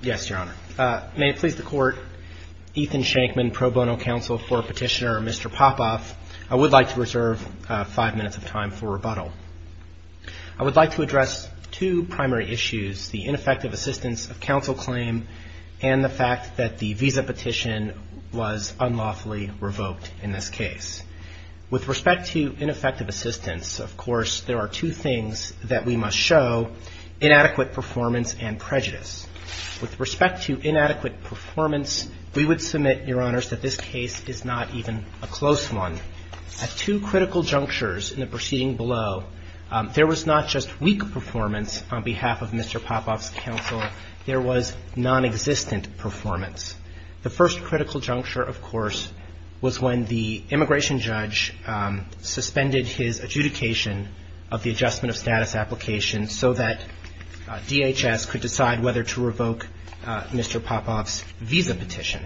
Yes, Your Honor. May it please the Court, Ethan Shankman, Pro Bono Counsel for Petitioner Mr. Popov, I would like to reserve five minutes of time for rebuttal. I would like to address two primary issues, the ineffective assistance of counsel claim and the fact that the visa petition was unlawfully revoked in this case. With respect to ineffective assistance, of course, there are two things that we must show, inadequate performance and prejudice. With respect to inadequate performance, we would submit, Your Honors, that this case is not even a close one. At two critical junctures in the proceeding below, there was not just weak performance on behalf of Mr. Popov's counsel, there was nonexistent performance. The first critical juncture, of course, was when the immigration judge suspended his adjudication of the adjustment of status application so that DHS could decide whether to revoke Mr. Popov's visa petition.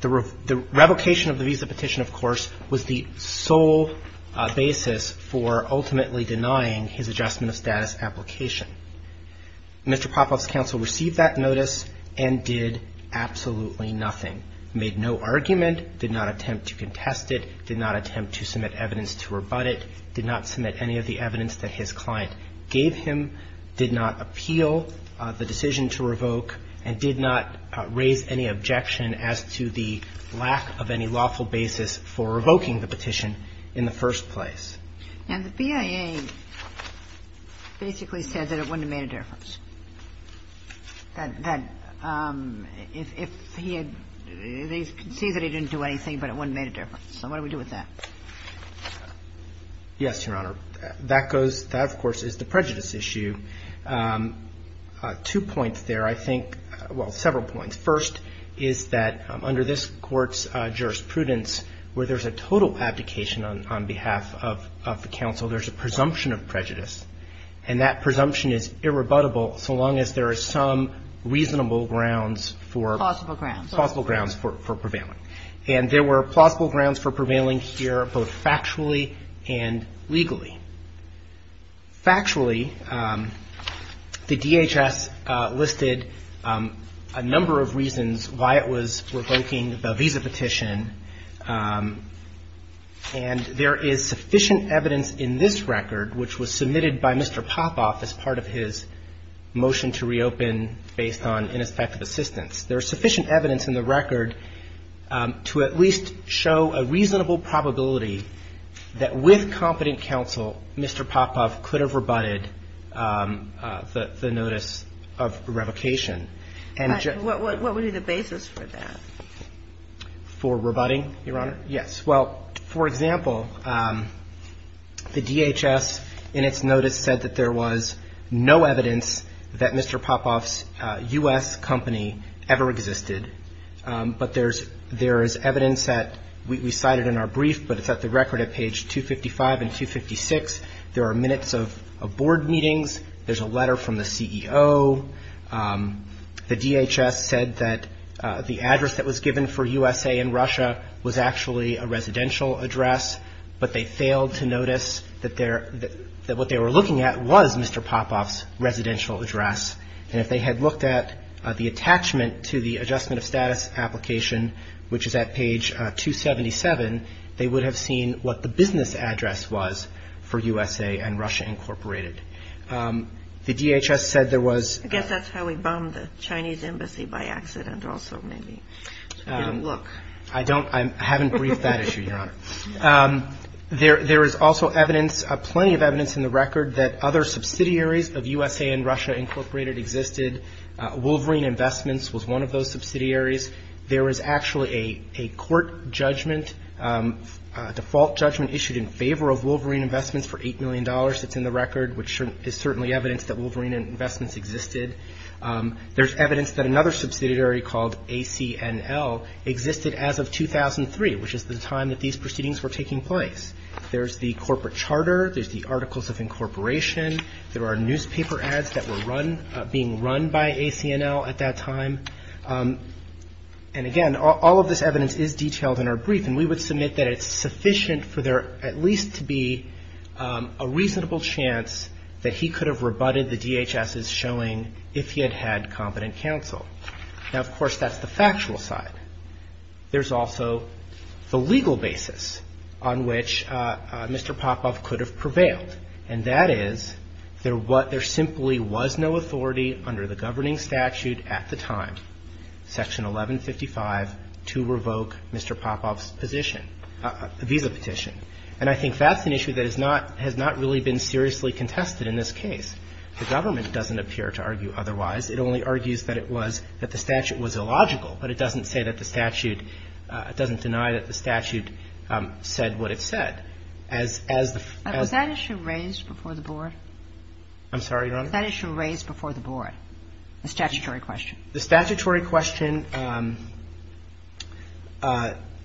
The revocation of the visa petition, of course, was the sole basis for ultimately denying his adjustment of status application. Mr. Popov's counsel received that notice and did absolutely nothing. Made no argument, did not attempt to contest it, did not attempt to submit evidence to rebut it, did not submit any of the evidence that his client gave him, did not appeal the decision to revoke, and did not raise any objection as to the lack of any lawful basis for revoking the petition in the first place. And the BIA basically said that it wouldn't have made a difference. That if he had – they concede that he didn't do anything, but it wouldn't have made a difference. So what do we do with that? Yes, Your Honor. That goes – that, of course, is the prejudice issue. Two points there, I think – well, several points. First is that under this Court's jurisprudence, where there's a total abdication on behalf of the counsel, there's a presumption of prejudice. And that presumption is irrebuttable so long as there are some reasonable grounds for – Plausible grounds. Plausible grounds for prevailing. And there were plausible grounds for prevailing here both factually and legally. Factually, the DHS listed a number of reasons why it was revoking the visa petition. And there is sufficient evidence in this record, which was submitted by Mr. Popoff as part of his motion to reopen based on ineffective assistance. There is sufficient evidence in the record to at least show a reasonable probability that with competent counsel, Mr. Popoff could have rebutted the notice of revocation. But what would be the basis for that? For rebutting, Your Honor? Yes. Well, for example, the DHS in its notice said that there was no evidence that Mr. Popoff's U.S. company ever existed. But there is evidence that – we cite it in our brief, but it's at the record at page 255 and 256. There are minutes of board meetings. There's a letter from the CEO. The DHS said that the address that was given for USA and Russia was actually a residential address. But they failed to notice that what they were looking at was Mr. Popoff's residential address. And if they had looked at the attachment to the adjustment of status application, which is at page 277, they would have seen what the business address was for USA and Russia, Incorporated. The DHS said there was – I guess that's how we bombed the Chinese embassy by accident also, maybe. I don't – I haven't briefed that issue, Your Honor. There is also evidence, plenty of evidence in the record, that other subsidiaries of USA and Russia, Incorporated, existed. Wolverine Investments was one of those subsidiaries. There is actually a court judgment, a default judgment issued in favor of Wolverine Investments for $8 million that's in the record, which is certainly evidence that Wolverine Investments existed. There's evidence that another subsidiary called ACNL existed as of 2003, which is the time that these proceedings were taking place. There's the corporate charter. There's the Articles of Incorporation. There are newspaper ads that were run – being run by ACNL at that time. And again, all of this evidence is detailed in our brief, and we would submit that it's sufficient for there at least to be a reasonable chance that he could have rebutted the DHS's showing if he had had competent counsel. Now, of course, that's the factual side. There's also the legal basis on which Mr. Popov could have prevailed, and that is there simply was no authority under the governing statute at the time, Section 1155, to revoke Mr. Popov's position, visa petition. And I think that's an issue that is not – has not really been seriously contested in this case. The government doesn't appear to argue otherwise. It only argues that it was – that the statute was illogical, but it doesn't say that the statute – it doesn't deny that the statute said what it said. As the – as the – Was that issue raised before the Board? I'm sorry, Your Honor? Was that issue raised before the Board, the statutory question? The statutory question,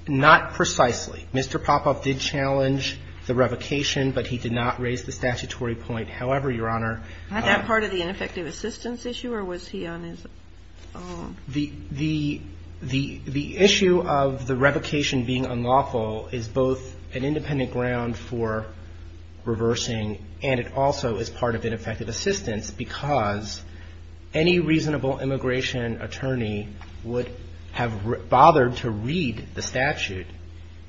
not precisely. Mr. Popov did challenge the revocation, but he did not raise the statutory point. However, Your Honor, Wasn't that part of the ineffective assistance issue, or was he on his own? The issue of the revocation being unlawful is both an independent ground for reversing, and it also is part of ineffective assistance because any reasonable immigration attorney would have bothered to read the statute.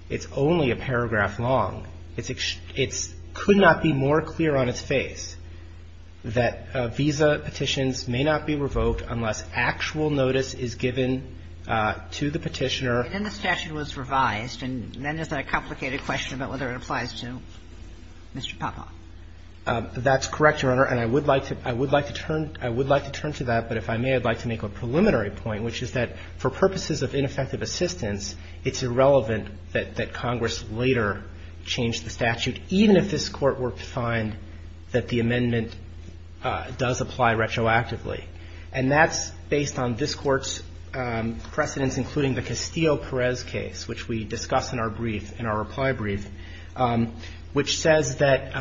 It's only a paragraph long. It's – it could not be more clear on its face that visa petitions may not be revoked unless actual notice is given to the petitioner. And then the statute was revised, and then there's the complicated question about whether it applies to Mr. Popov. That's correct, Your Honor. And I would like to – I would like to turn – I would like to turn to that, but if I may, I'd like to make a preliminary point, which is that for purposes of ineffective assistance, it's irrelevant that Congress later change the statute, even if this Court were to find that the amendment does apply retroactively. And that's based on this Court's precedents, including the Castillo-Perez case, which we discuss in our brief, in our reply brief, which says that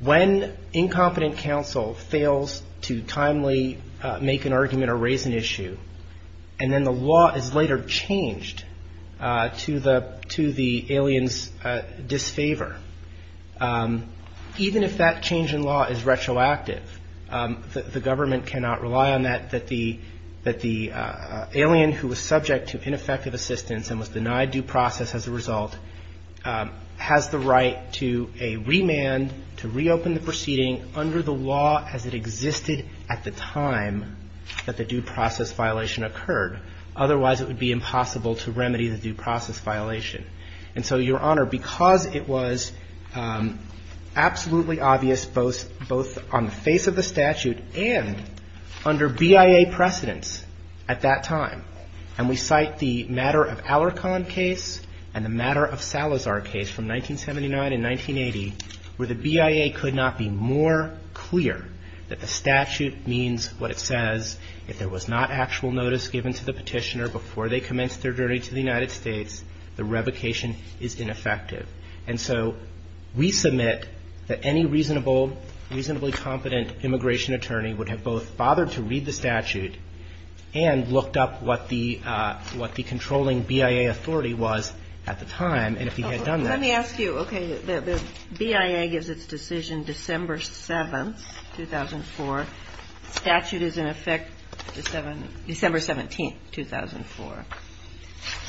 when incompetent counsel fails to timely make an argument or raise an issue, and then the law is later changed to the – to the alien's disfavor, even if that change in law is retroactive, the government cannot rely on that, that the – that the alien who was subject to ineffective assistance and was denied due process as a result has the right to a remand to reopen the proceeding under the law as it existed at the time that the due process violation occurred. Otherwise, it would be impossible to remedy the due process violation. And so, Your Honor, because it was absolutely obvious both – the BIA precedents at that time, and we cite the matter of Alarcon case and the matter of Salazar case from 1979 and 1980, where the BIA could not be more clear that the statute means what it says, if there was not actual notice given to the petitioner before they commenced their journey to the United States, the revocation is ineffective. And so we submit that any reasonable – reasonably competent immigration attorney would have both bothered to read the statute and looked up what the – what the controlling BIA authority was at the time, and if he had done that. Let me ask you, okay, the BIA gives its decision December 7th, 2004. Statute is in effect December 17th, 2004.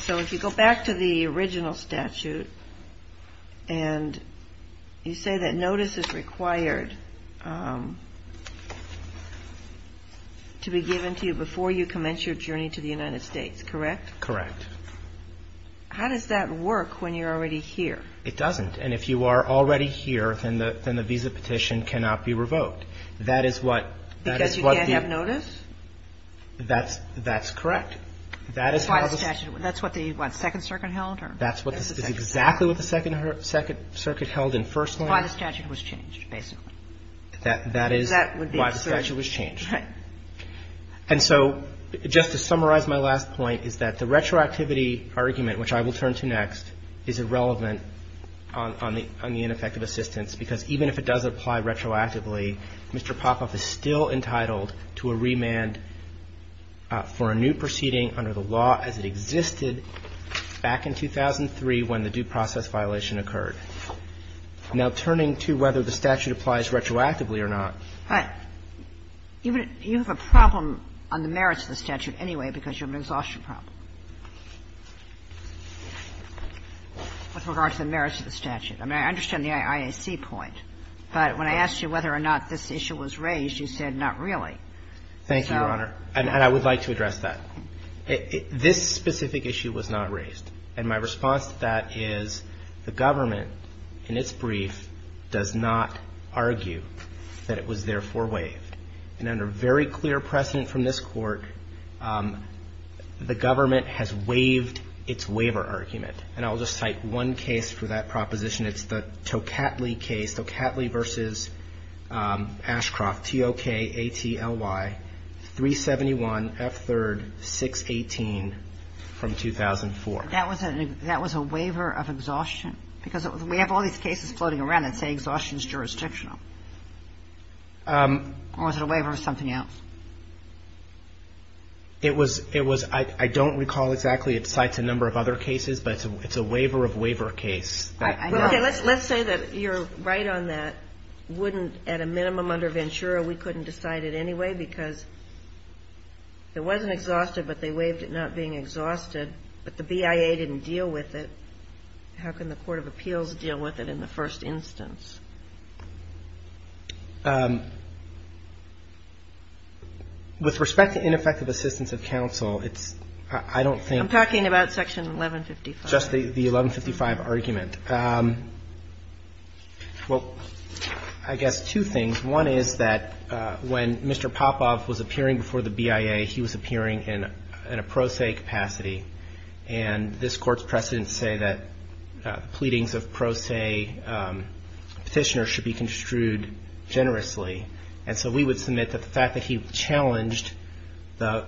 So if you go back to the original statute and you say that notice is required to be given to you before you commence your journey to the United States, correct? Correct. How does that work when you're already here? It doesn't. And if you are already here, then the – then the visa petition cannot be revoked. That is what – that is what the – Because you can't have notice? That's – that's correct. That is how the statute – That's why the statute – that's what the, what, Second Circuit held, or? That's what the – That's exactly what the Second – Second Circuit held in First Amendment. That's why the statute was changed, basically. That – that is why the statute was changed. Right. And so just to summarize my last point is that the retroactivity argument, which I will turn to next, is irrelevant on the ineffective assistance, because even if it does apply retroactively, Mr. Popoff is still entitled to a remand for a new proceeding under the law as it existed back in 2003 when the due process violation occurred. Now, turning to whether the statute applies retroactively or not – But you have a problem on the merits of the statute anyway because you have an exhaustion problem with regard to the merits of the statute. I mean, I understand the IAC point. But when I asked you whether or not this issue was raised, you said not really. Thank you, Your Honor. And I would like to address that. This specific issue was not raised. And my response to that is the government, in its brief, does not argue that it was therefore waived. And under very clear precedent from this Court, the government has waived its waiver argument. And I will just cite one case for that proposition. It's the Tocatli case, Tocatli v. Ashcroft, T-O-K-A-T-L-Y, 371, F3, 618, from 2004. That was a waiver of exhaustion? Because we have all these cases floating around that say exhaustion is jurisdictional. Or was it a waiver of something else? It was – it was – I don't recall exactly. It cites a number of other cases. But it's a waiver-of-waiver case. Okay. Let's say that you're right on that. Wouldn't, at a minimum, under Ventura, we couldn't decide it anyway because it wasn't exhausted, but they waived it not being exhausted. But the BIA didn't deal with it. How can the court of appeals deal with it in the first instance? With respect to ineffective assistance of counsel, it's – I don't think – I'm talking about Section 1155. Just the 1155 argument. Well, I guess two things. One is that when Mr. Popov was appearing before the BIA, he was appearing in a pro se capacity. And this Court's precedents say that pleadings of pro se Petitioner should be construed generously. And so we would submit that the fact that he challenged the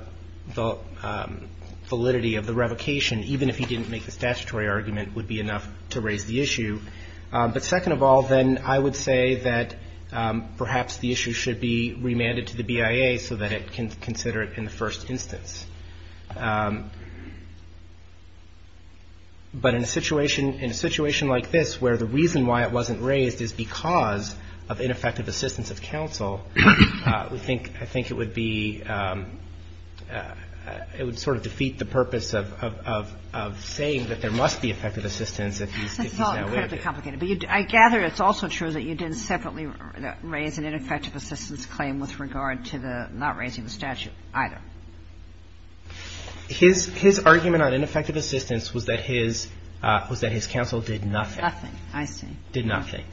validity of the revocation, even if he didn't make the statutory argument, would be enough to raise the issue. But second of all, then, I would say that perhaps the issue should be remanded to the BIA so that it can consider it in the first instance. But in a situation – in a situation like this where the reason why it wasn't raised is because of ineffective assistance of counsel, we think – I think it would be – it would sort of defeat the purpose of saying that there must be effective assistance if he's that way. That's all incredibly complicated. But I gather it's also true that you didn't separately raise an ineffective assistance claim with regard to the – not raising the statute either. His – his argument on ineffective assistance was that his – was that his counsel did nothing. Nothing. I see. Did nothing.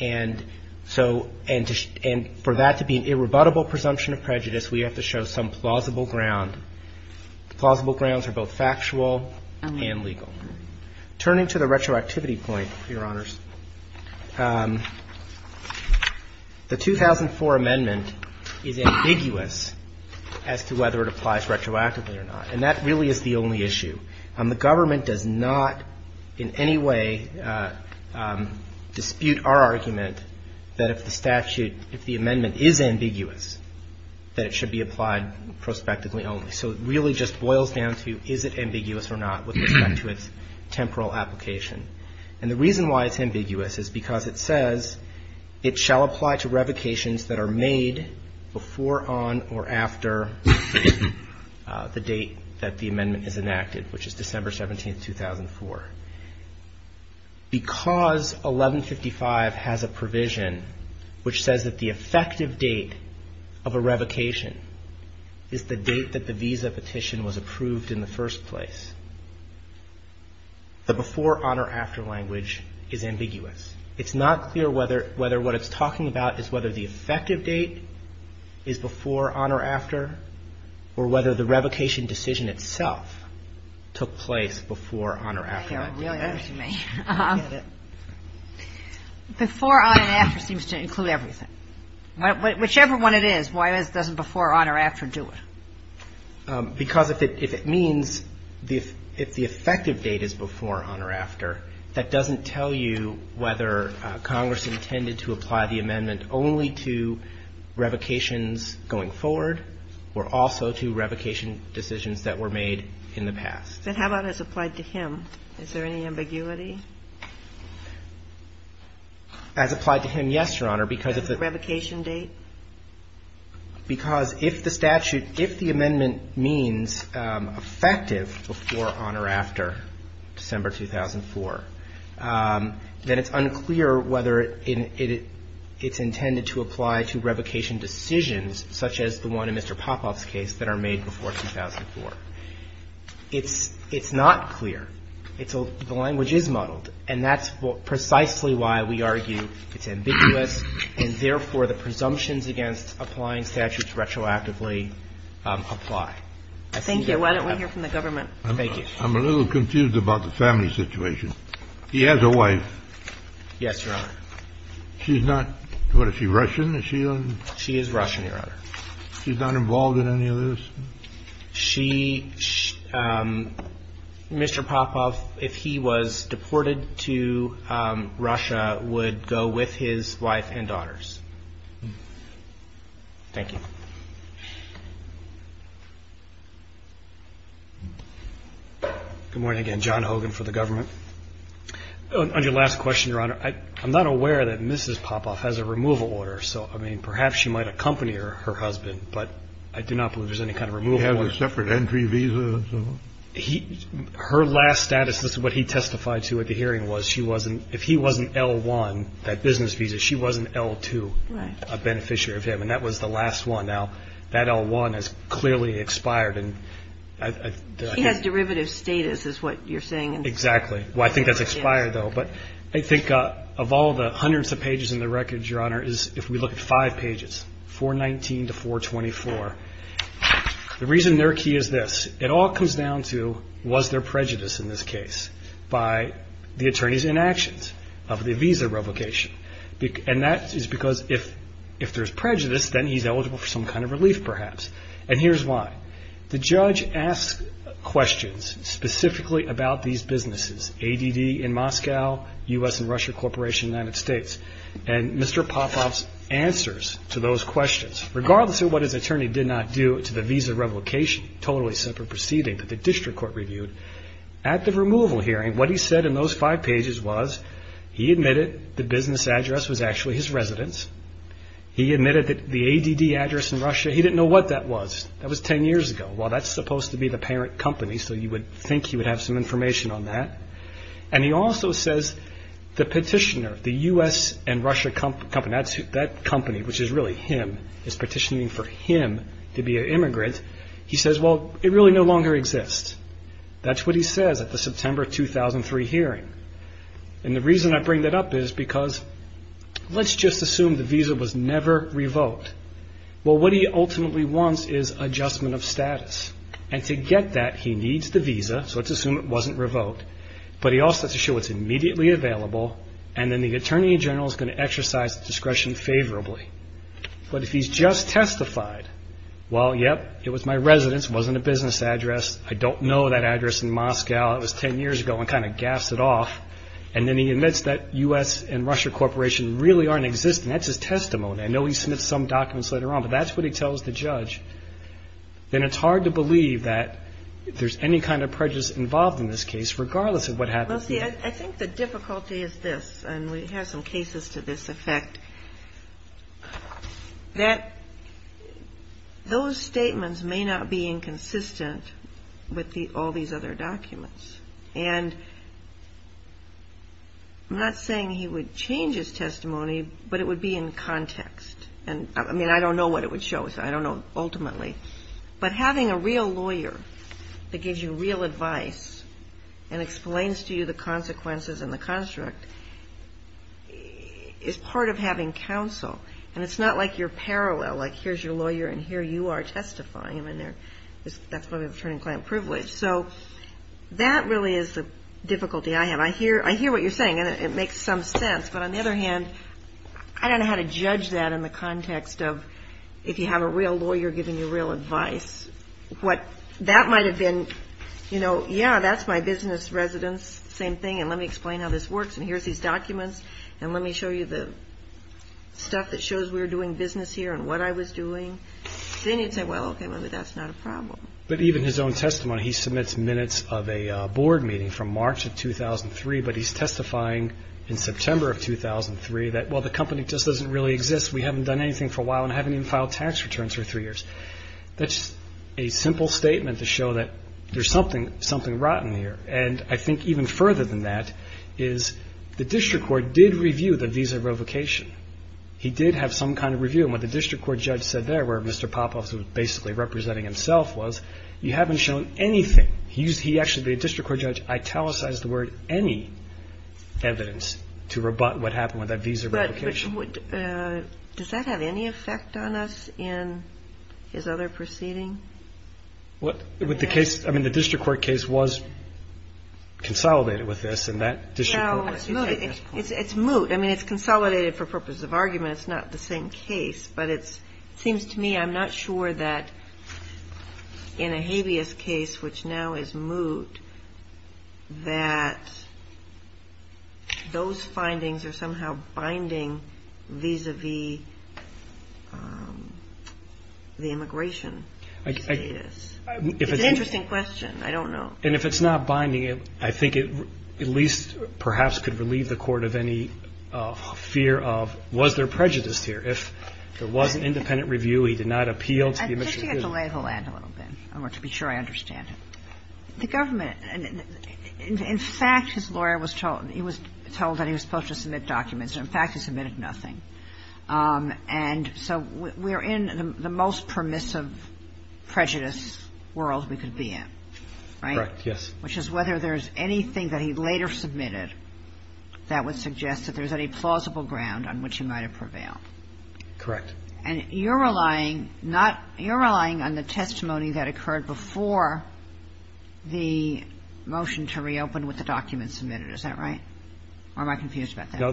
And so – and for that to be an irrebuttable presumption of prejudice, we have to show some plausible ground. Plausible grounds are both factual and legal. Turning to the retroactivity point, Your Honors, the 2004 amendment is ambiguous as to whether it applies retroactively or not. And that really is the only issue. The government does not in any way dispute our argument that if the statute – if the So it really just boils down to is it ambiguous or not with respect to its temporal application. And the reason why it's ambiguous is because it says it shall apply to revocations that are made before, on, or after the date that the amendment is enacted, which is December 17, 2004. Because 1155 has a provision which says that the effective date of a revocation is the date that the visa petition was approved in the first place, the before, on, or after language is ambiguous. It's not clear whether – whether what it's talking about is whether the effective date is before, on, or after, or whether the revocation decision itself took place before, on, or after that date. I hear what you mean. I get it. Before, on, and after seems to include everything. Whichever one it is, why doesn't before, on, or after do it? Because if it means – if the effective date is before, on, or after, that doesn't tell you whether Congress intended to apply the amendment only to revocations going forward or also to revocation decisions that were made in the past. But how about as applied to him? Is there any ambiguity? As applied to him, yes, Your Honor, because if the – The revocation date? Because if the statute – if the amendment means effective before, on, or after revocations such as the one in Mr. Popoff's case that are made before 2004. It's – it's not clear. It's a – the language is muddled, and that's precisely why we argue it's ambiguous and, therefore, the presumptions against applying statutes retroactively apply. Thank you. Why don't we hear from the government? Thank you. I'm a little confused about the family situation. He has a wife. Yes, Your Honor. She's not – what is she, Russian? Is she a – She is Russian, Your Honor. She's not involved in any of this? She – Mr. Popoff, if he was deported to Russia, would go with his wife and daughters. Thank you. Good morning again. John Hogan for the government. On your last question, Your Honor, I'm not aware that Mrs. Popoff has a removal order, so, I mean, perhaps she might accompany her husband, but I do not believe there's any kind of removal order. Does he have a separate entry visa? He – her last status, this is what he testified to at the hearing, was she wasn't – if he wasn't L-1, that business visa, she wasn't L-2. Right. A beneficiary of him, and that was the last one. Now, that L-1 has clearly expired, and I – He has derivative status, is what you're saying. Exactly. Well, I think that's expired, though. But I think of all the hundreds of pages in the record, Your Honor, is, if we look at five pages, 419 to 424, the reason they're key is this. It all comes down to, was there prejudice in this case by the attorney's inactions of the visa revocation? And that is because if there's prejudice, then he's eligible for some kind of relief, perhaps. And here's why. The judge asked questions specifically about these businesses, ADD in Moscow, U.S. and Russia Corporation in the United States. And Mr. Popov's answers to those questions, regardless of what his attorney did not do to the visa revocation, totally separate proceeding that the district court reviewed, at the removal hearing, what he said in those five pages was he admitted the business address was actually his residence. He admitted that the ADD address in Russia, he didn't know what that was. That was ten years ago. Well, that's supposed to be the parent company, so you would think he would have some information on that. And he also says the petitioner, the U.S. and Russia company, that company, which is really him, is petitioning for him to be an immigrant. He says, well, it really no longer exists. That's what he says at the September 2003 hearing. And the reason I bring that up is because let's just assume the visa was never revoked. Well, what he ultimately wants is adjustment of status. And to get that, he needs the visa, so let's assume it wasn't revoked. But he also has to show it's immediately available, and then the attorney general is going to exercise discretion favorably. But if he's just testified, well, yep, it was my residence. It wasn't a business address. I don't know that address in Moscow. It was ten years ago. I kind of gassed it off. And then he admits that U.S. and Russia Corporation really aren't existing. That's his testimony. I know he submits some documents later on, but that's what he tells the judge. Then it's hard to believe that there's any kind of prejudice involved in this case, regardless of what happens. Well, see, I think the difficulty is this, and we have some cases to this effect, that those statements may not be inconsistent with all these other documents. And I'm not saying he would change his testimony, but it would be in context. I mean, I don't know what it would show us. I don't know ultimately. But having a real lawyer that gives you real advice and explains to you the consequences and the construct is part of having counsel. And it's not like you're parallel, like here's your lawyer and here you are testifying. That's why we have attorney-client privilege. So that really is the difficulty I have. I hear what you're saying, and it makes some sense. But on the other hand, I don't know how to judge that in the context of if you have a real lawyer giving you real advice. What that might have been, you know, yeah, that's my business residence, same thing, and let me explain how this works, and here's these documents, and let me show you the stuff that shows we're doing business here and what I was doing. Then you'd say, well, okay, maybe that's not a problem. But even his own testimony, he submits minutes of a board meeting from March of 2003, but he's testifying in September of 2003 that, well, the company just doesn't really exist. We haven't done anything for a while and haven't even filed tax returns for three years. That's a simple statement to show that there's something rotten here. And I think even further than that is the district court did review the visa revocation. He did have some kind of review. And what the district court judge said there where Mr. Popoff was basically representing himself was, you haven't shown anything. He actually, the district court judge, italicized the word any evidence to rebut what happened with that visa revocation. But does that have any effect on us in his other proceeding? Well, with the case, I mean, the district court case was consolidated with this, and that district court. It's moot. I mean, it's consolidated for purposes of argument. It's not the same case, but it seems to me I'm not sure that in a habeas case, which now is moot, that those findings are somehow binding vis-a-vis the immigration status. It's an interesting question. I don't know. And if it's not binding, I think it at least perhaps could relieve the court of any fear of, well, was there prejudice here? If there was an independent review, he did not appeal to the immigration. I think you have to lay the land a little bit, to be sure I understand it. The government, in fact, his lawyer was told that he was supposed to submit documents. In fact, he submitted nothing. And so we're in the most permissive prejudice world we could be in, right? Correct, yes. Which is whether there's anything that he later submitted that would suggest that there's any plausible ground on which he might have prevailed. Correct. And you're relying not – you're relying on the testimony that occurred before the motion to reopen with the document submitted, is that right? Or am I confused about that? No,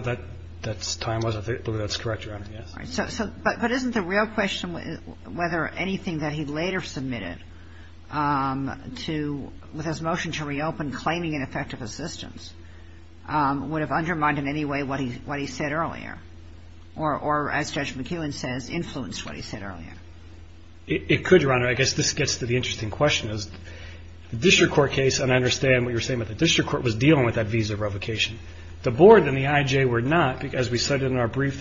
that's time-wise. I think that's correct, Your Honor, yes. All right. But isn't the real question whether anything that he later submitted to – with his what he said earlier? Or, as Judge McEwen says, influenced what he said earlier? It could, Your Honor. I guess this gets to the interesting question. The district court case, and I understand what you're saying, but the district court was dealing with that visa revocation. The board and the I.J. were not, because we cited in our brief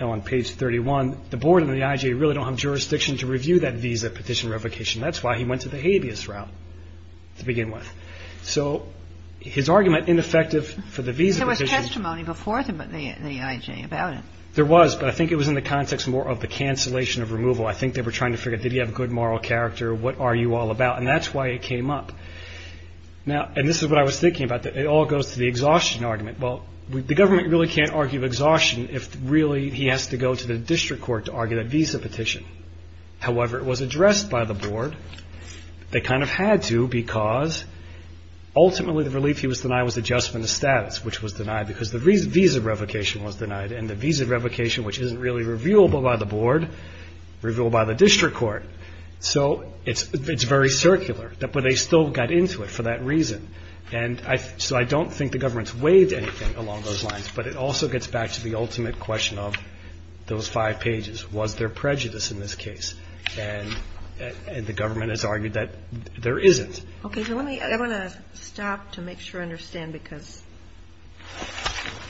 on page 31, the board and the I.J. really don't have jurisdiction to review that visa petition revocation. That's why he went to the habeas route to begin with. So his argument, ineffective for the visa petition. There was testimony before the I.J. about it. There was, but I think it was in the context more of the cancellation of removal. I think they were trying to figure, did he have good moral character? What are you all about? And that's why it came up. Now, and this is what I was thinking about. It all goes to the exhaustion argument. Well, the government really can't argue exhaustion if, really, he has to go to the district court to argue that visa petition. However, it was addressed by the board. They kind of had to because ultimately the relief he was denied was adjustment of status, which was denied because the visa revocation was denied. And the visa revocation, which isn't really reviewable by the board, reviewable by the district court. So it's very circular. But they still got into it for that reason. And so I don't think the government's weighed anything along those lines. But it also gets back to the ultimate question of those five pages. Was there prejudice in this case? And the government has argued that there isn't. Okay, so let me stop to make sure I understand because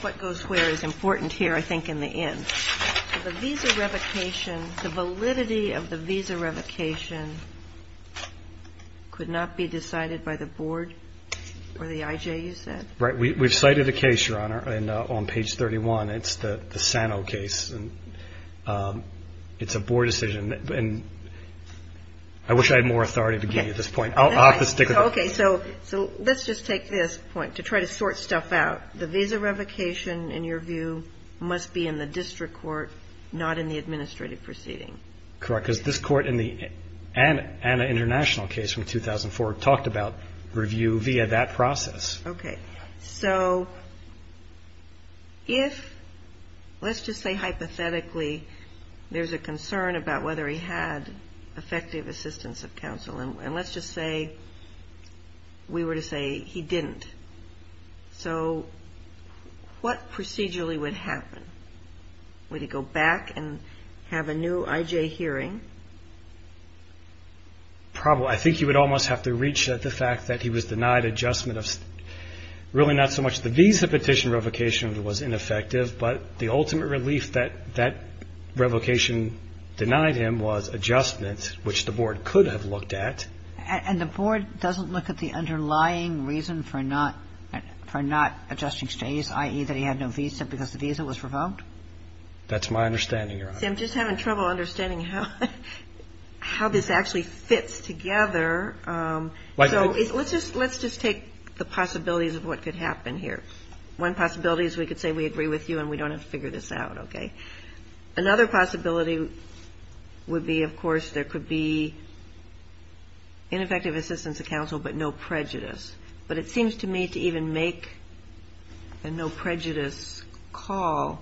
what goes where is important here, I think, in the end. The visa revocation, the validity of the visa revocation could not be decided by the board or the IJ, you said? Right. We've cited a case, Your Honor, on page 31. It's the Sano case. And it's a board decision. And I wish I had more authority to give you at this point. I'll have to stick with it. Okay, so let's just take this point to try to sort stuff out. The visa revocation, in your view, must be in the district court, not in the administrative proceeding. Correct, because this court in the Anna International case from 2004 talked about review via that process. Okay. So if, let's just say hypothetically, there's a concern about whether he had effective assistance of counsel, and let's just say we were to say he didn't, so what procedurally would happen? Would he go back and have a new IJ hearing? Probably. I think he would almost have to reach the fact that he was denied adjustment of really not so much the visa petition revocation, but the ultimate relief that that revocation denied him was adjustment, which the board could have looked at. And the board doesn't look at the underlying reason for not adjusting stays, i.e., that he had no visa because the visa was revoked? That's my understanding, Your Honor. See, I'm just having trouble understanding how this actually fits together. So let's just take the possibilities of what could happen here. One possibility is we could say we agree with you and we don't have to figure this out, okay? Another possibility would be, of course, there could be ineffective assistance of counsel but no prejudice. But it seems to me to even make a no prejudice call,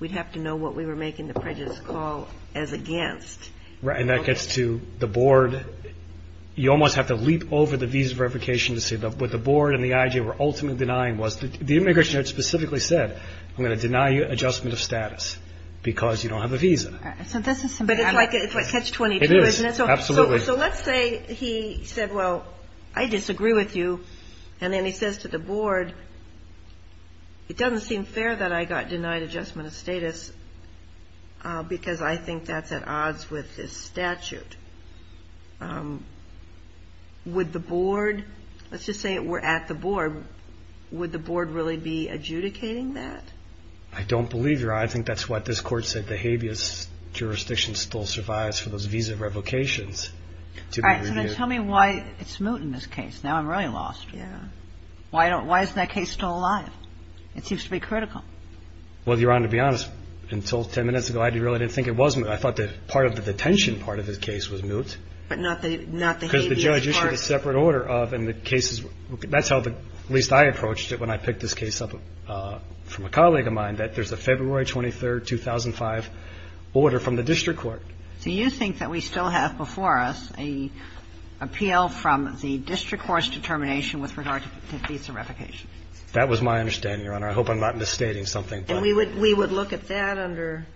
we'd have to know what we were making the prejudice call as against. Right, and that gets to the board. You almost have to leap over the visa revocation to see what the board and the IJ were ultimately denying was the immigration judge specifically said, I'm going to deny you adjustment of status because you don't have a visa. But it's like catch-22, isn't it? It is, absolutely. So let's say he said, well, I disagree with you, and then he says to the board, it doesn't seem fair that I got denied adjustment of status because I think that's at odds with this statute. Would the board, let's just say we're at the board, would the board really be adjudicating that? I don't believe, Your Honor, I think that's what this court said, the habeas jurisdiction still survives for those visa revocations to be reviewed. All right, so tell me why it's moot in this case. Now I'm really lost. Yeah. Why is that case still alive? It seems to be critical. Well, Your Honor, to be honest, until 10 minutes ago, I really didn't think it was moot. I thought that part of the detention part of this case was moot. But not the habeas part. Because the judge issued a separate order of, and the cases, that's how at least I approached it when I picked this case up from a colleague of mine, that there's a February 23, 2005 order from the district court. So you think that we still have before us an appeal from the district court's determination with regard to visa revocation? That was my understanding, Your Honor. I hope I'm not misstating something. And we would look at that under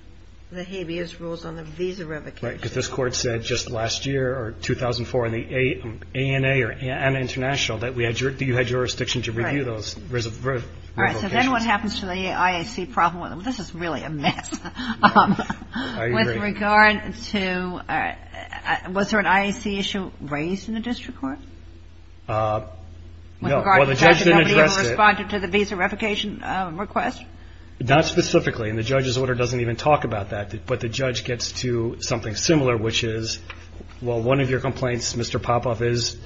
the habeas rules on the visa revocation. Right. Because this court said just last year or 2004 in the ANA or ANA International that you had jurisdiction to review those revocations. Right. All right. So then what happens to the IAC problem? This is really a mess. I agree. With regard to, was there an IAC issue raised in the district court? No. With regard to the fact that nobody ever responded to the visa revocation request? Not specifically. And the judge's order doesn't even talk about that. But the judge gets to something similar, which is, well, one of your complaints, Mr. Popoff, is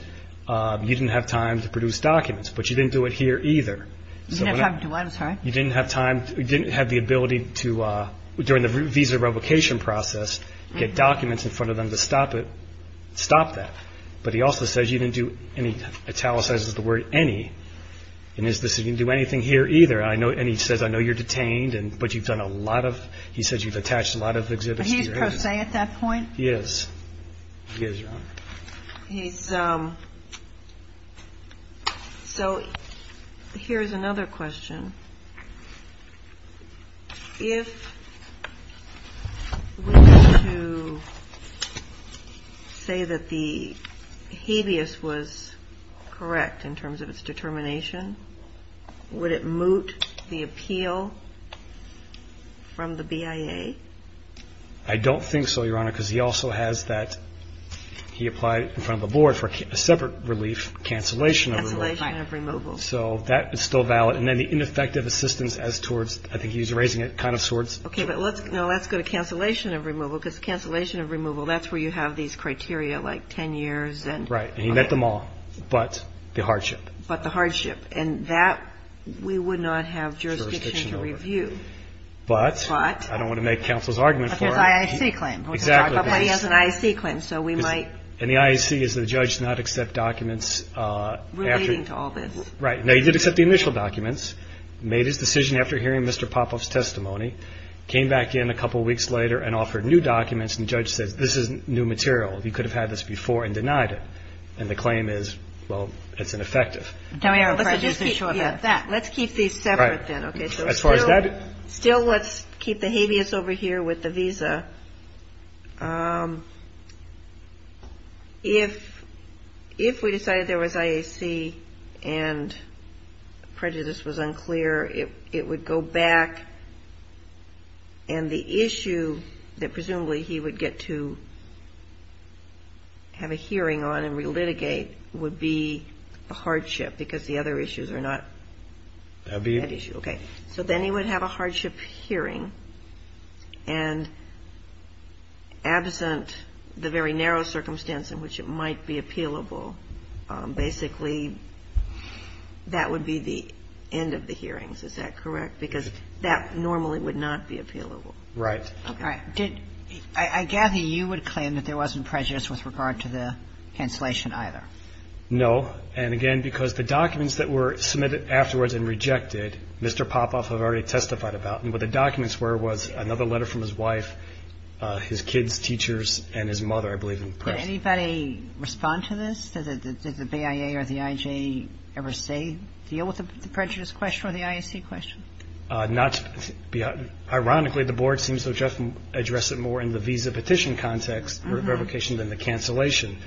you didn't have time to produce documents. But you didn't do it here either. You didn't have time to do what? I'm sorry? You didn't have time, you didn't have the ability to, during the visa revocation process, get documents in front of them to stop it, stop that. But he also says you didn't do, and he italicizes the word, any, and he says you didn't do anything here either. And he says, I know you're detained, but you've done a lot of, he says you've attached a lot of exhibits to your agency. But he's pro se at that point? He is. He is, Your Honor. He's, so here's another question. If we were to say that the habeas was correct in terms of its determination, would it moot the appeal from the BIA? I don't think so, Your Honor, because he also has that, he applied in front of a board for a separate relief, cancellation of removal. Cancellation of removal. So that is still valid. And then the ineffective assistance as towards, I think he's erasing it, kind of towards. Okay, but let's, no, let's go to cancellation of removal, because cancellation of removal, that's where you have these criteria like 10 years and. Right, and he met them all, but the hardship. But the hardship. And that we would not have jurisdiction to review. Jurisdiction over. But. But. I don't want to make counsel's argument for it. But there's an IAC claim. Exactly. He has an IAC claim, so we might. And the IAC is the judge not accept documents after. Relating to all this. Right. Now, he did accept the initial documents, made his decision after hearing Mr. Popoff's testimony, came back in a couple weeks later and offered new documents. And the judge says, this is new material. He could have had this before and denied it. And the claim is, well, it's ineffective. Let's keep these separate then. As far as that. Still, let's keep the habeas over here with the visa. If we decided there was IAC and prejudice was unclear, it would go back. And the issue that presumably he would get to have a hearing on and relitigate would be the hardship, because the other issues are not that issue. Okay. So then he would have a hardship hearing, and absent the very narrow circumstance in which it might be appealable, basically that would be the end of the hearings. Is that correct? Because that normally would not be appealable. Right. Okay. I gather you would claim that there wasn't prejudice with regard to the cancellation either. No. And, again, because the documents that were submitted afterwards and rejected, Mr. Popoff had already testified about. And what the documents were was another letter from his wife, his kids, teachers, and his mother, I believe. Did anybody respond to this? Did the BIA or the IJ ever say deal with the prejudice question or the IAC question? Not to be – ironically, the board seems to address it more in the visa petition context or revocation than the cancellation.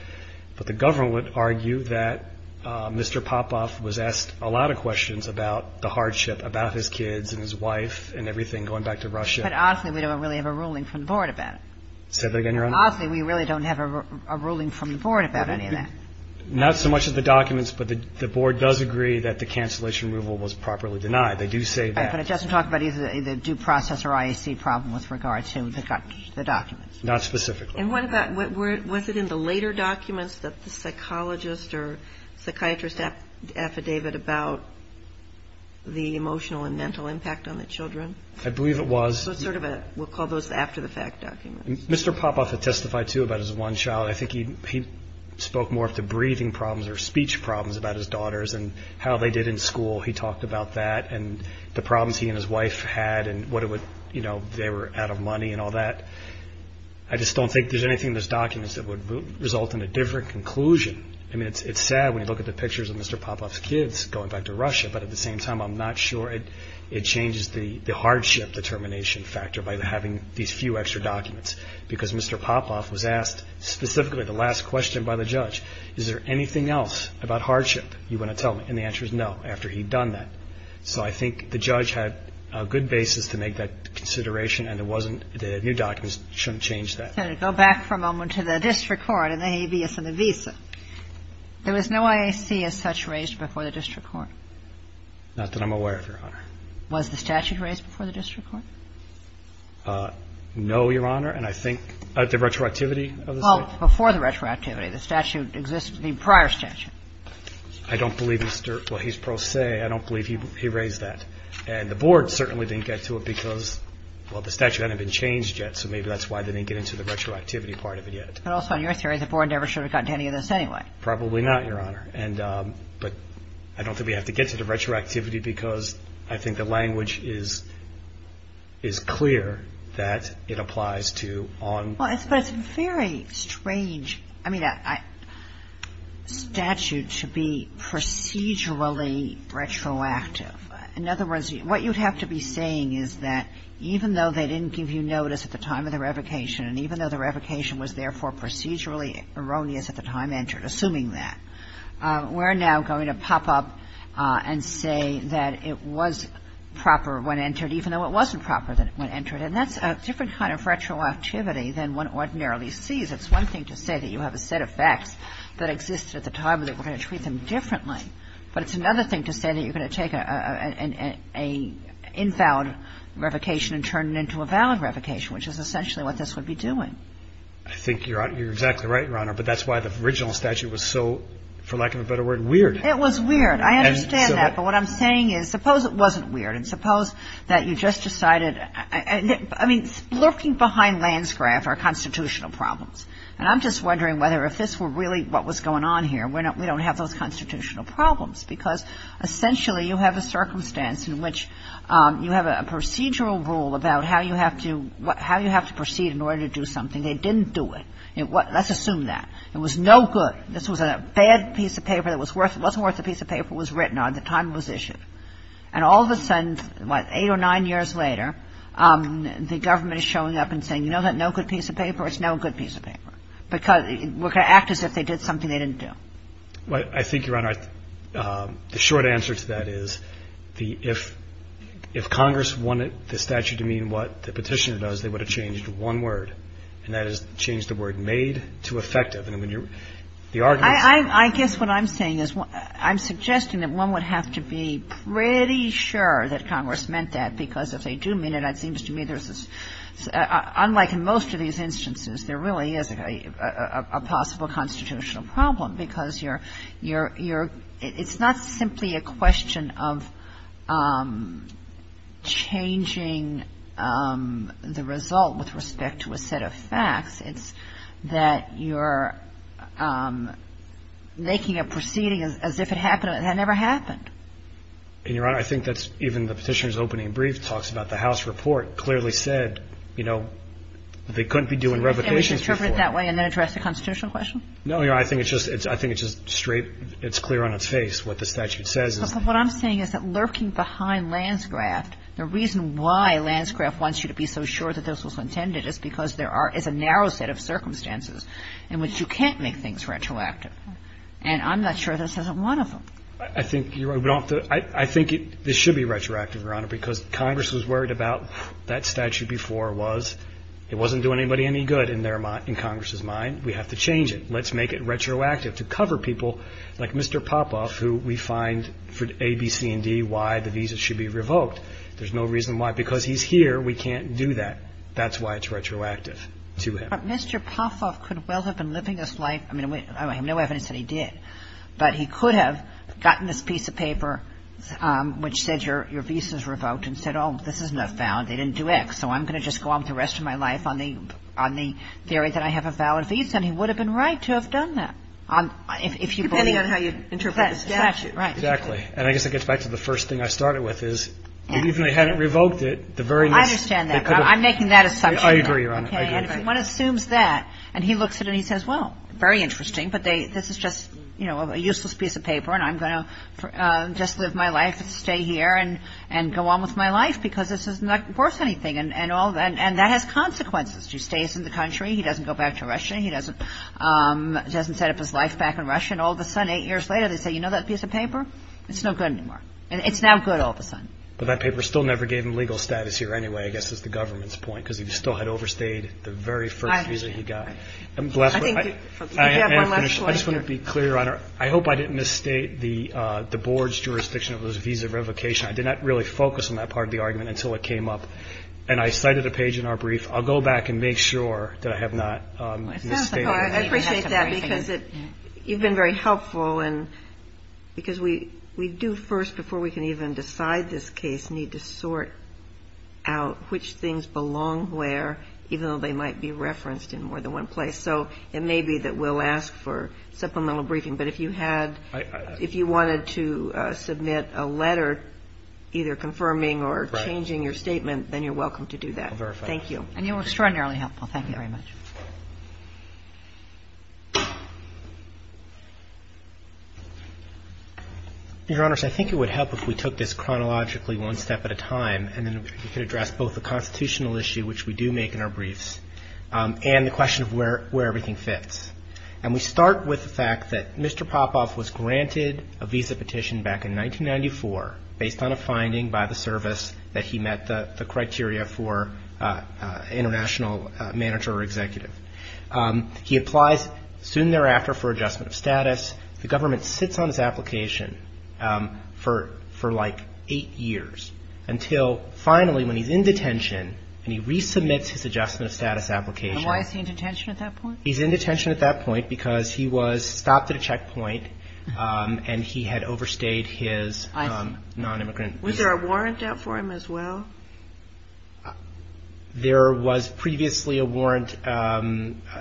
But the government would argue that Mr. Popoff was asked a lot of questions about the hardship, about his kids and his wife and everything, going back to Russia. But, honestly, we don't really have a ruling from the board about it. Say that again, Your Honor? Honestly, we really don't have a ruling from the board about any of that. Not so much as the documents, but the board does agree that the cancellation removal was properly denied. They do say that. But it doesn't talk about either due process or IAC problem with regard to the documents. Not specifically. And what about – was it in the later documents that the psychologist or psychiatrist affidavit about the emotional and mental impact on the children? I believe it was. So it's sort of a – we'll call those after-the-fact documents. Mr. Popoff had testified, too, about his one child. I think he spoke more of the breathing problems or speech problems about his daughters and how they did in school. He talked about that and the problems he and his wife had and what it would – you know, they were out of money and all that. I just don't think there's anything in those documents that would result in a different conclusion. I mean, it's sad when you look at the pictures of Mr. Popoff's kids going back to Russia, but at the same time I'm not sure it changes the hardship determination factor by having these few extra documents. Because Mr. Popoff was asked specifically the last question by the judge, is there anything else about hardship you want to tell me? And the answer is no, after he'd done that. So I think the judge had a good basis to make that consideration and there wasn't – the new documents shouldn't change that. Senator, go back for a moment to the district court and the habeas and the visa. There was no IAC as such raised before the district court? Not that I'm aware of, Your Honor. Was the statute raised before the district court? No, Your Honor, and I think – the retroactivity of the statute? Well, before the retroactivity, the statute – the prior statute. I don't believe Mr. – well, he's pro se. I don't believe he raised that. And the board certainly didn't get to it because, well, the statute hadn't been changed yet, so maybe that's why they didn't get into the retroactivity part of it yet. But also, in your theory, the board never should have gotten to any of this anyway. Probably not, Your Honor. But I don't think we have to get to the retroactivity because I think the language is clear that it applies to on – But it's a very strange statute to be procedurally retroactive. In other words, what you'd have to be saying is that even though they didn't give you notice at the time of the revocation and even though the revocation was, therefore, procedurally erroneous at the time entered, assuming that, we're now going to pop up and say that it was proper when entered, even though it wasn't proper when entered. And that's a different kind of retroactivity than one ordinarily sees. It's one thing to say that you have a set of facts that existed at the time and that we're going to treat them differently. But it's another thing to say that you're going to take an invalid revocation and turn it into a valid revocation, which is essentially what this would be doing. I think you're exactly right, Your Honor. But that's why the original statute was so, for lack of a better word, weird. It was weird. I understand that. But what I'm saying is suppose it wasn't weird and suppose that you just decided – I mean, lurking behind landscraft are constitutional problems. And I'm just wondering whether if this were really what was going on here, we don't have those constitutional problems, because essentially you have a circumstance in which you have a procedural rule about how you have to proceed in order to do something. They didn't do it. Let's assume that. It was no good. This was a bad piece of paper that wasn't worth the piece of paper it was written on at the time it was issued. And all of a sudden, what, eight or nine years later, the government is showing up and saying, you know that no good piece of paper? It's no good piece of paper. And I'm just wondering whether you would have changed the word, made to effective, to make it more effective. Because it would act as if they did something they didn't do. I think, Your Honor, the short answer to that is if Congress wanted the statute to mean what the petitioner does, they would have changed one word, and that is change the word made to effective. And when you're – the argument is – I guess what I'm saying is I'm suggesting that one would have to be pretty sure that Congress meant that, because if they do mean it, it seems to me there's – unlike in most of these instances, there really is a possible constitutional problem, because you're – it's not simply a question of changing the result with respect to a set of facts. It's that you're making a proceeding as if it never happened. And, Your Honor, I think that's – even the petitioner's opening brief talks about the House report clearly said, you know, they couldn't be doing revocations before. So you're saying we should interpret it that way and then address the constitutional question? No, Your Honor. I think it's just – I think it's just straight – it's clear on its face what the statute says. But what I'm saying is that lurking behind Lanscraft, the reason why Lanscraft wants you to be so sure that this was intended is because there are – is a narrow set of circumstances in which you can't make things retroactive. And I'm not sure this isn't one of them. I think you're – I think this should be retroactive, Your Honor, because Congress was worried about – that statute before was – it wasn't doing anybody any good in their – in Congress's mind. We have to change it. Let's make it retroactive to cover people like Mr. Popoff, who we find for A, B, C, and D why the visa should be revoked. There's no reason why. Because he's here, we can't do that. That's why it's retroactive to him. But Mr. Popoff could well have been living this life – I mean, I have no evidence that he did. But he could have gotten this piece of paper which said your visa is revoked and said, oh, this is not valid, they didn't do X, so I'm going to just go on with the rest of my life on the theory that I have a valid visa. And he would have been right to have done that. If you believe – Depending on how you interpret the statute. Right. Exactly. And I guess it gets back to the first thing I started with is even if they hadn't revoked it, the very – I understand that. But I'm making that assumption. I agree, Your Honor. I agree. And if one assumes that, and he looks at it and he says, well, very interesting, but this is just a useless piece of paper and I'm going to just live my life and stay here and go on with my life because this is not worth anything. And that has consequences. He stays in the country. He doesn't go back to Russia. He doesn't set up his life back in Russia. And all of a sudden, eight years later, they say, you know that piece of paper? It's no good anymore. It's now good all of a sudden. But that paper still never gave him legal status here anyway, I guess is the government's point, because he still had overstayed the very first visa he got. I just want to be clear, Your Honor. I hope I didn't misstate the board's jurisdiction of his visa revocation. I did not really focus on that part of the argument until it came up. And I cited a page in our brief. I'll go back and make sure that I have not misstated it. I appreciate that because you've been very helpful. And because we do first, before we can even decide this case, need to sort out which things belong where, even though they might be referenced in more than one place. So it may be that we'll ask for supplemental briefing. But if you had – if you wanted to submit a letter either confirming or changing your statement, then you're welcome to do that. I'll verify. Thank you. And you were extraordinarily helpful. Thank you very much. Your Honors, I think it would help if we took this chronologically one step at a time and then we could address both the constitutional issue, which we do make in our briefs, and the question of where everything fits. And we start with the fact that Mr. Popoff was granted a visa petition back in 1994 based on a finding by the service that he met the criteria for international manager or executive. He applies soon thereafter for adjustment of status. The government sits on his application for like eight years until finally when he's in detention and he resubmits his adjustment of status application. And why is he in detention at that point? He's in detention at that point because he was stopped at a checkpoint and he had overstayed his non-immigrant visa. Was there a warrant out for him as well? There was previously a warrant, a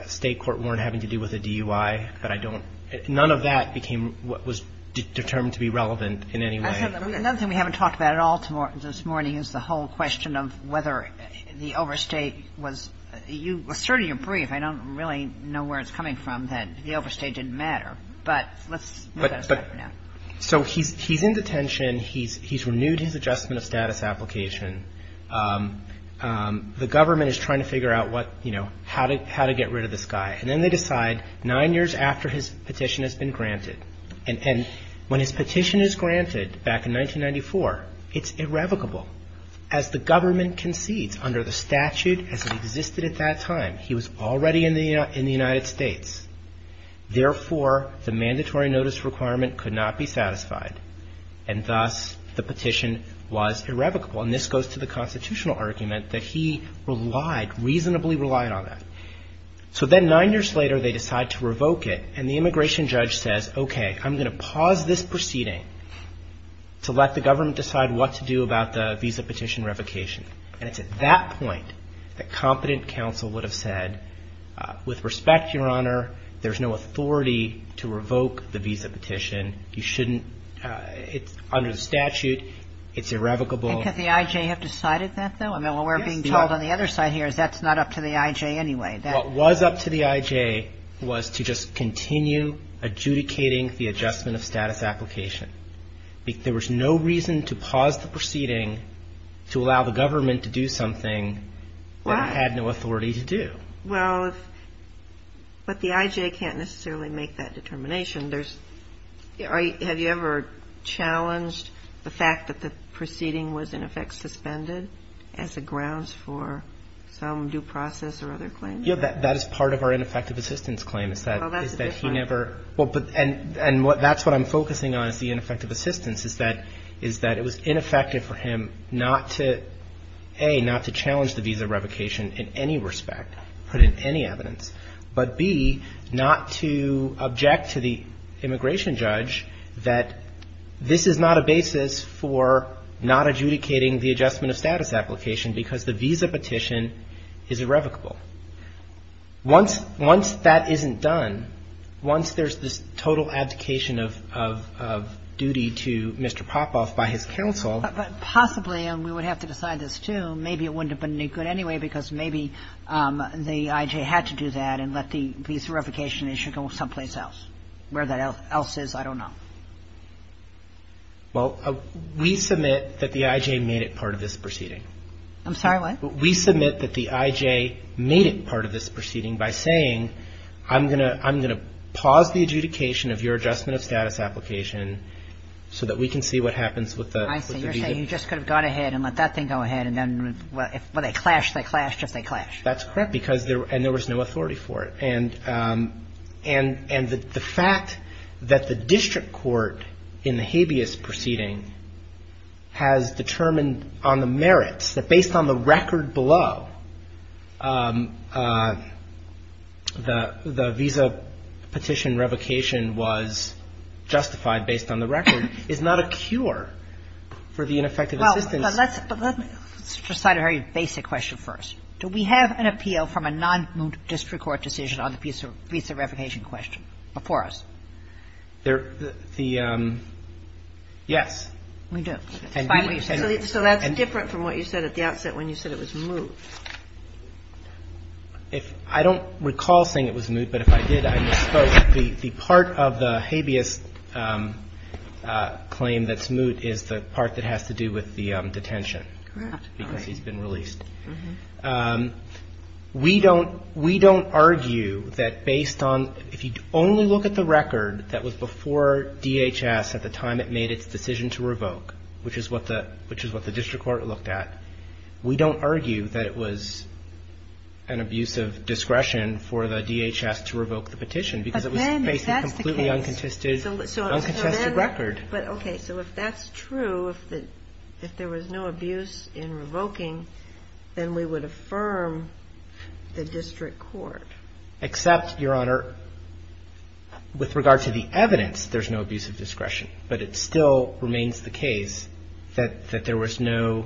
state court warrant having to do with a DUI. But I don't – none of that became what was determined to be relevant in any way. Another thing we haven't talked about at all this morning is the whole question of whether the overstay was – you asserted in your brief, I don't really know where it's coming from, that the overstay didn't matter. But let's move that aside for now. So he's in detention. He's renewed his adjustment of status application. The government is trying to figure out what, you know, how to get rid of this guy. And then they decide nine years after his petition has been granted. And when his petition is granted back in 1994, it's irrevocable. As the government concedes under the statute as it existed at that time, he was already in the United States. Therefore, the mandatory notice requirement could not be satisfied. And thus, the petition was irrevocable. And this goes to the constitutional argument that he relied, reasonably relied on that. So then nine years later, they decide to revoke it. And the immigration judge says, okay, I'm going to pause this proceeding to let the government decide what to do about the visa petition revocation. And it's at that point that competent counsel would have said, with respect, Your Honor, there's no authority to revoke the visa petition. You shouldn't – it's under the statute. It's irrevocable. And could the I.J. have decided that, though? I mean, what we're being told on the other side here is that's not up to the I.J. anyway. What was up to the I.J. was to just continue adjudicating the adjustment of status application. There was no reason to pause the proceeding to allow the government to do something that it had no authority to do. Well, but the I.J. can't necessarily make that determination. Have you ever challenged the fact that the proceeding was, in effect, suspended as a grounds for some due process or other claim? Yeah. That is part of our ineffective assistance claim is that he never – Well, that's a good point. And that's what I'm focusing on is the ineffective assistance is that it was ineffective for him not to, A, not to challenge the visa revocation in any respect, put in any evidence, but, B, not to object to the immigration judge that this is not a basis for not adjudicating the adjustment of status application because the visa petition is irrevocable. Once that isn't done, once there's this total abdication of duty to Mr. Popoff by his counsel – because maybe the I.J. had to do that and let the visa revocation issue go someplace else. Where that else is, I don't know. Well, we submit that the I.J. made it part of this proceeding. I'm sorry, what? We submit that the I.J. made it part of this proceeding by saying, I'm going to pause the adjudication of your adjustment of status application so that we can see what happens with the visa. You just could have gone ahead and let that thing go ahead, and then, well, they clash, they clash, just they clash. That's correct, and there was no authority for it. And the fact that the district court in the habeas proceeding has determined on the merits that based on the record below, the visa petition revocation was justified based on the record is not a cure for the ineffective assistance. Well, but let's decide a very basic question first. Do we have an appeal from a non-district court decision on the visa revocation question before us? There – the – yes. We do. So that's different from what you said at the outset when you said it was moot. If – I don't recall saying it was moot, but if I did, I misspoke. The part of the habeas claim that's moot is the part that has to do with the detention. Correct. Because he's been released. We don't argue that based on – if you only look at the record that was before DHS at the time it made its decision to revoke, which is what the – which is what the district court looked at, we don't argue that it was an abuse of discretion for the DHS to revoke the petition. But then, if that's the case – Because it was based on a completely uncontested – uncontested record. But, okay, so if that's true, if there was no abuse in revoking, then we would affirm the district court. Except, Your Honor, with regard to the evidence, there's no abuse of discretion. But it still remains the case that there was no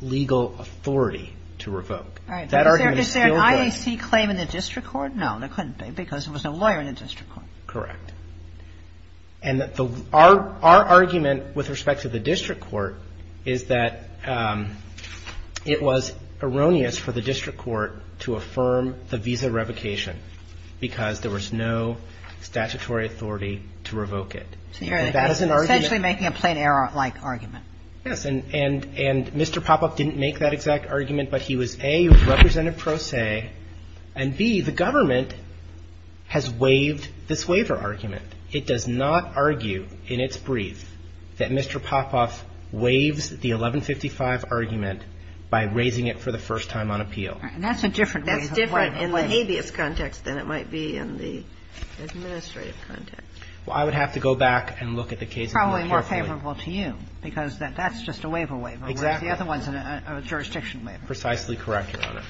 legal authority to revoke. All right. Is there an IAC claim in the district court? No, there couldn't be, because there was no lawyer in the district court. Correct. And our argument with respect to the district court is that it was erroneous for the district And that is an argument – Essentially making a plain error-like argument. Yes. And Mr. Popoff didn't make that exact argument, but he was, A, represented pro se, and, B, the government has waived this waiver argument. It does not argue in its brief that Mr. Popoff waives the 1155 argument by raising it for the first time on appeal. And that's a different – That's different in the habeas context than it might be in the administrative context. Well, I would have to go back and look at the cases more carefully. Probably more favorable to you, because that's just a waiver waiver. Exactly. Whereas the other one's a jurisdiction waiver. Precisely correct, Your Honor.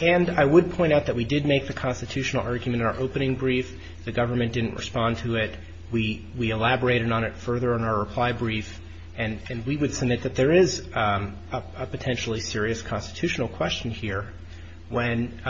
And I would point out that we did make the constitutional argument in our opening brief. The government didn't respond to it. We elaborated on it further in our reply brief. And we would submit that there is a potentially serious constitutional question here when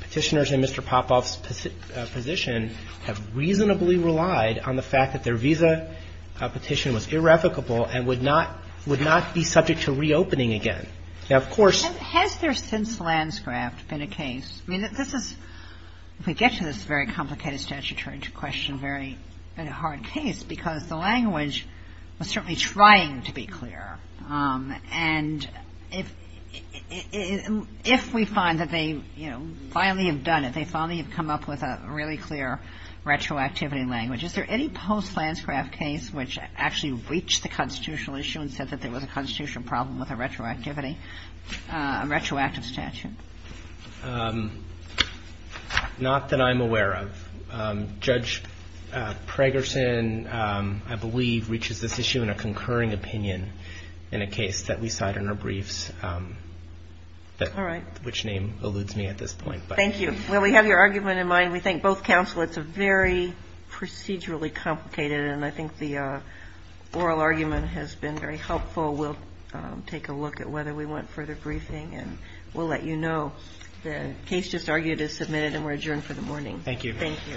Petitioners in Mr. Popoff's position have reasonably relied on the fact that their visa petition was irrevocable and would not – would not be subject to reopening again. Now, of course – Has there since Lanscraft been a case – I mean, this is – if we get to this very complicated statutory question, very – been a hard case, because the language was certainly trying to be clear. And if we find that they, you know, finally have done it, they finally have come up with a really clear retroactivity language. Is there any post-Lanscraft case which actually reached the constitutional issue and said that there was a constitutional problem with a retroactivity – a retroactive statute? Not that I'm aware of. Judge Pragerson, I believe, reaches this issue in a concurring opinion. In a case that we cite in our briefs. All right. Which name alludes me at this point. Thank you. Well, we have your argument in mind. We thank both counsel. It's a very procedurally complicated, and I think the oral argument has been very helpful. We'll take a look at whether we want further briefing, and we'll let you know. The case just argued is submitted, and we're adjourned for the morning. Thank you. Thank you. All rise. This court is adjourned.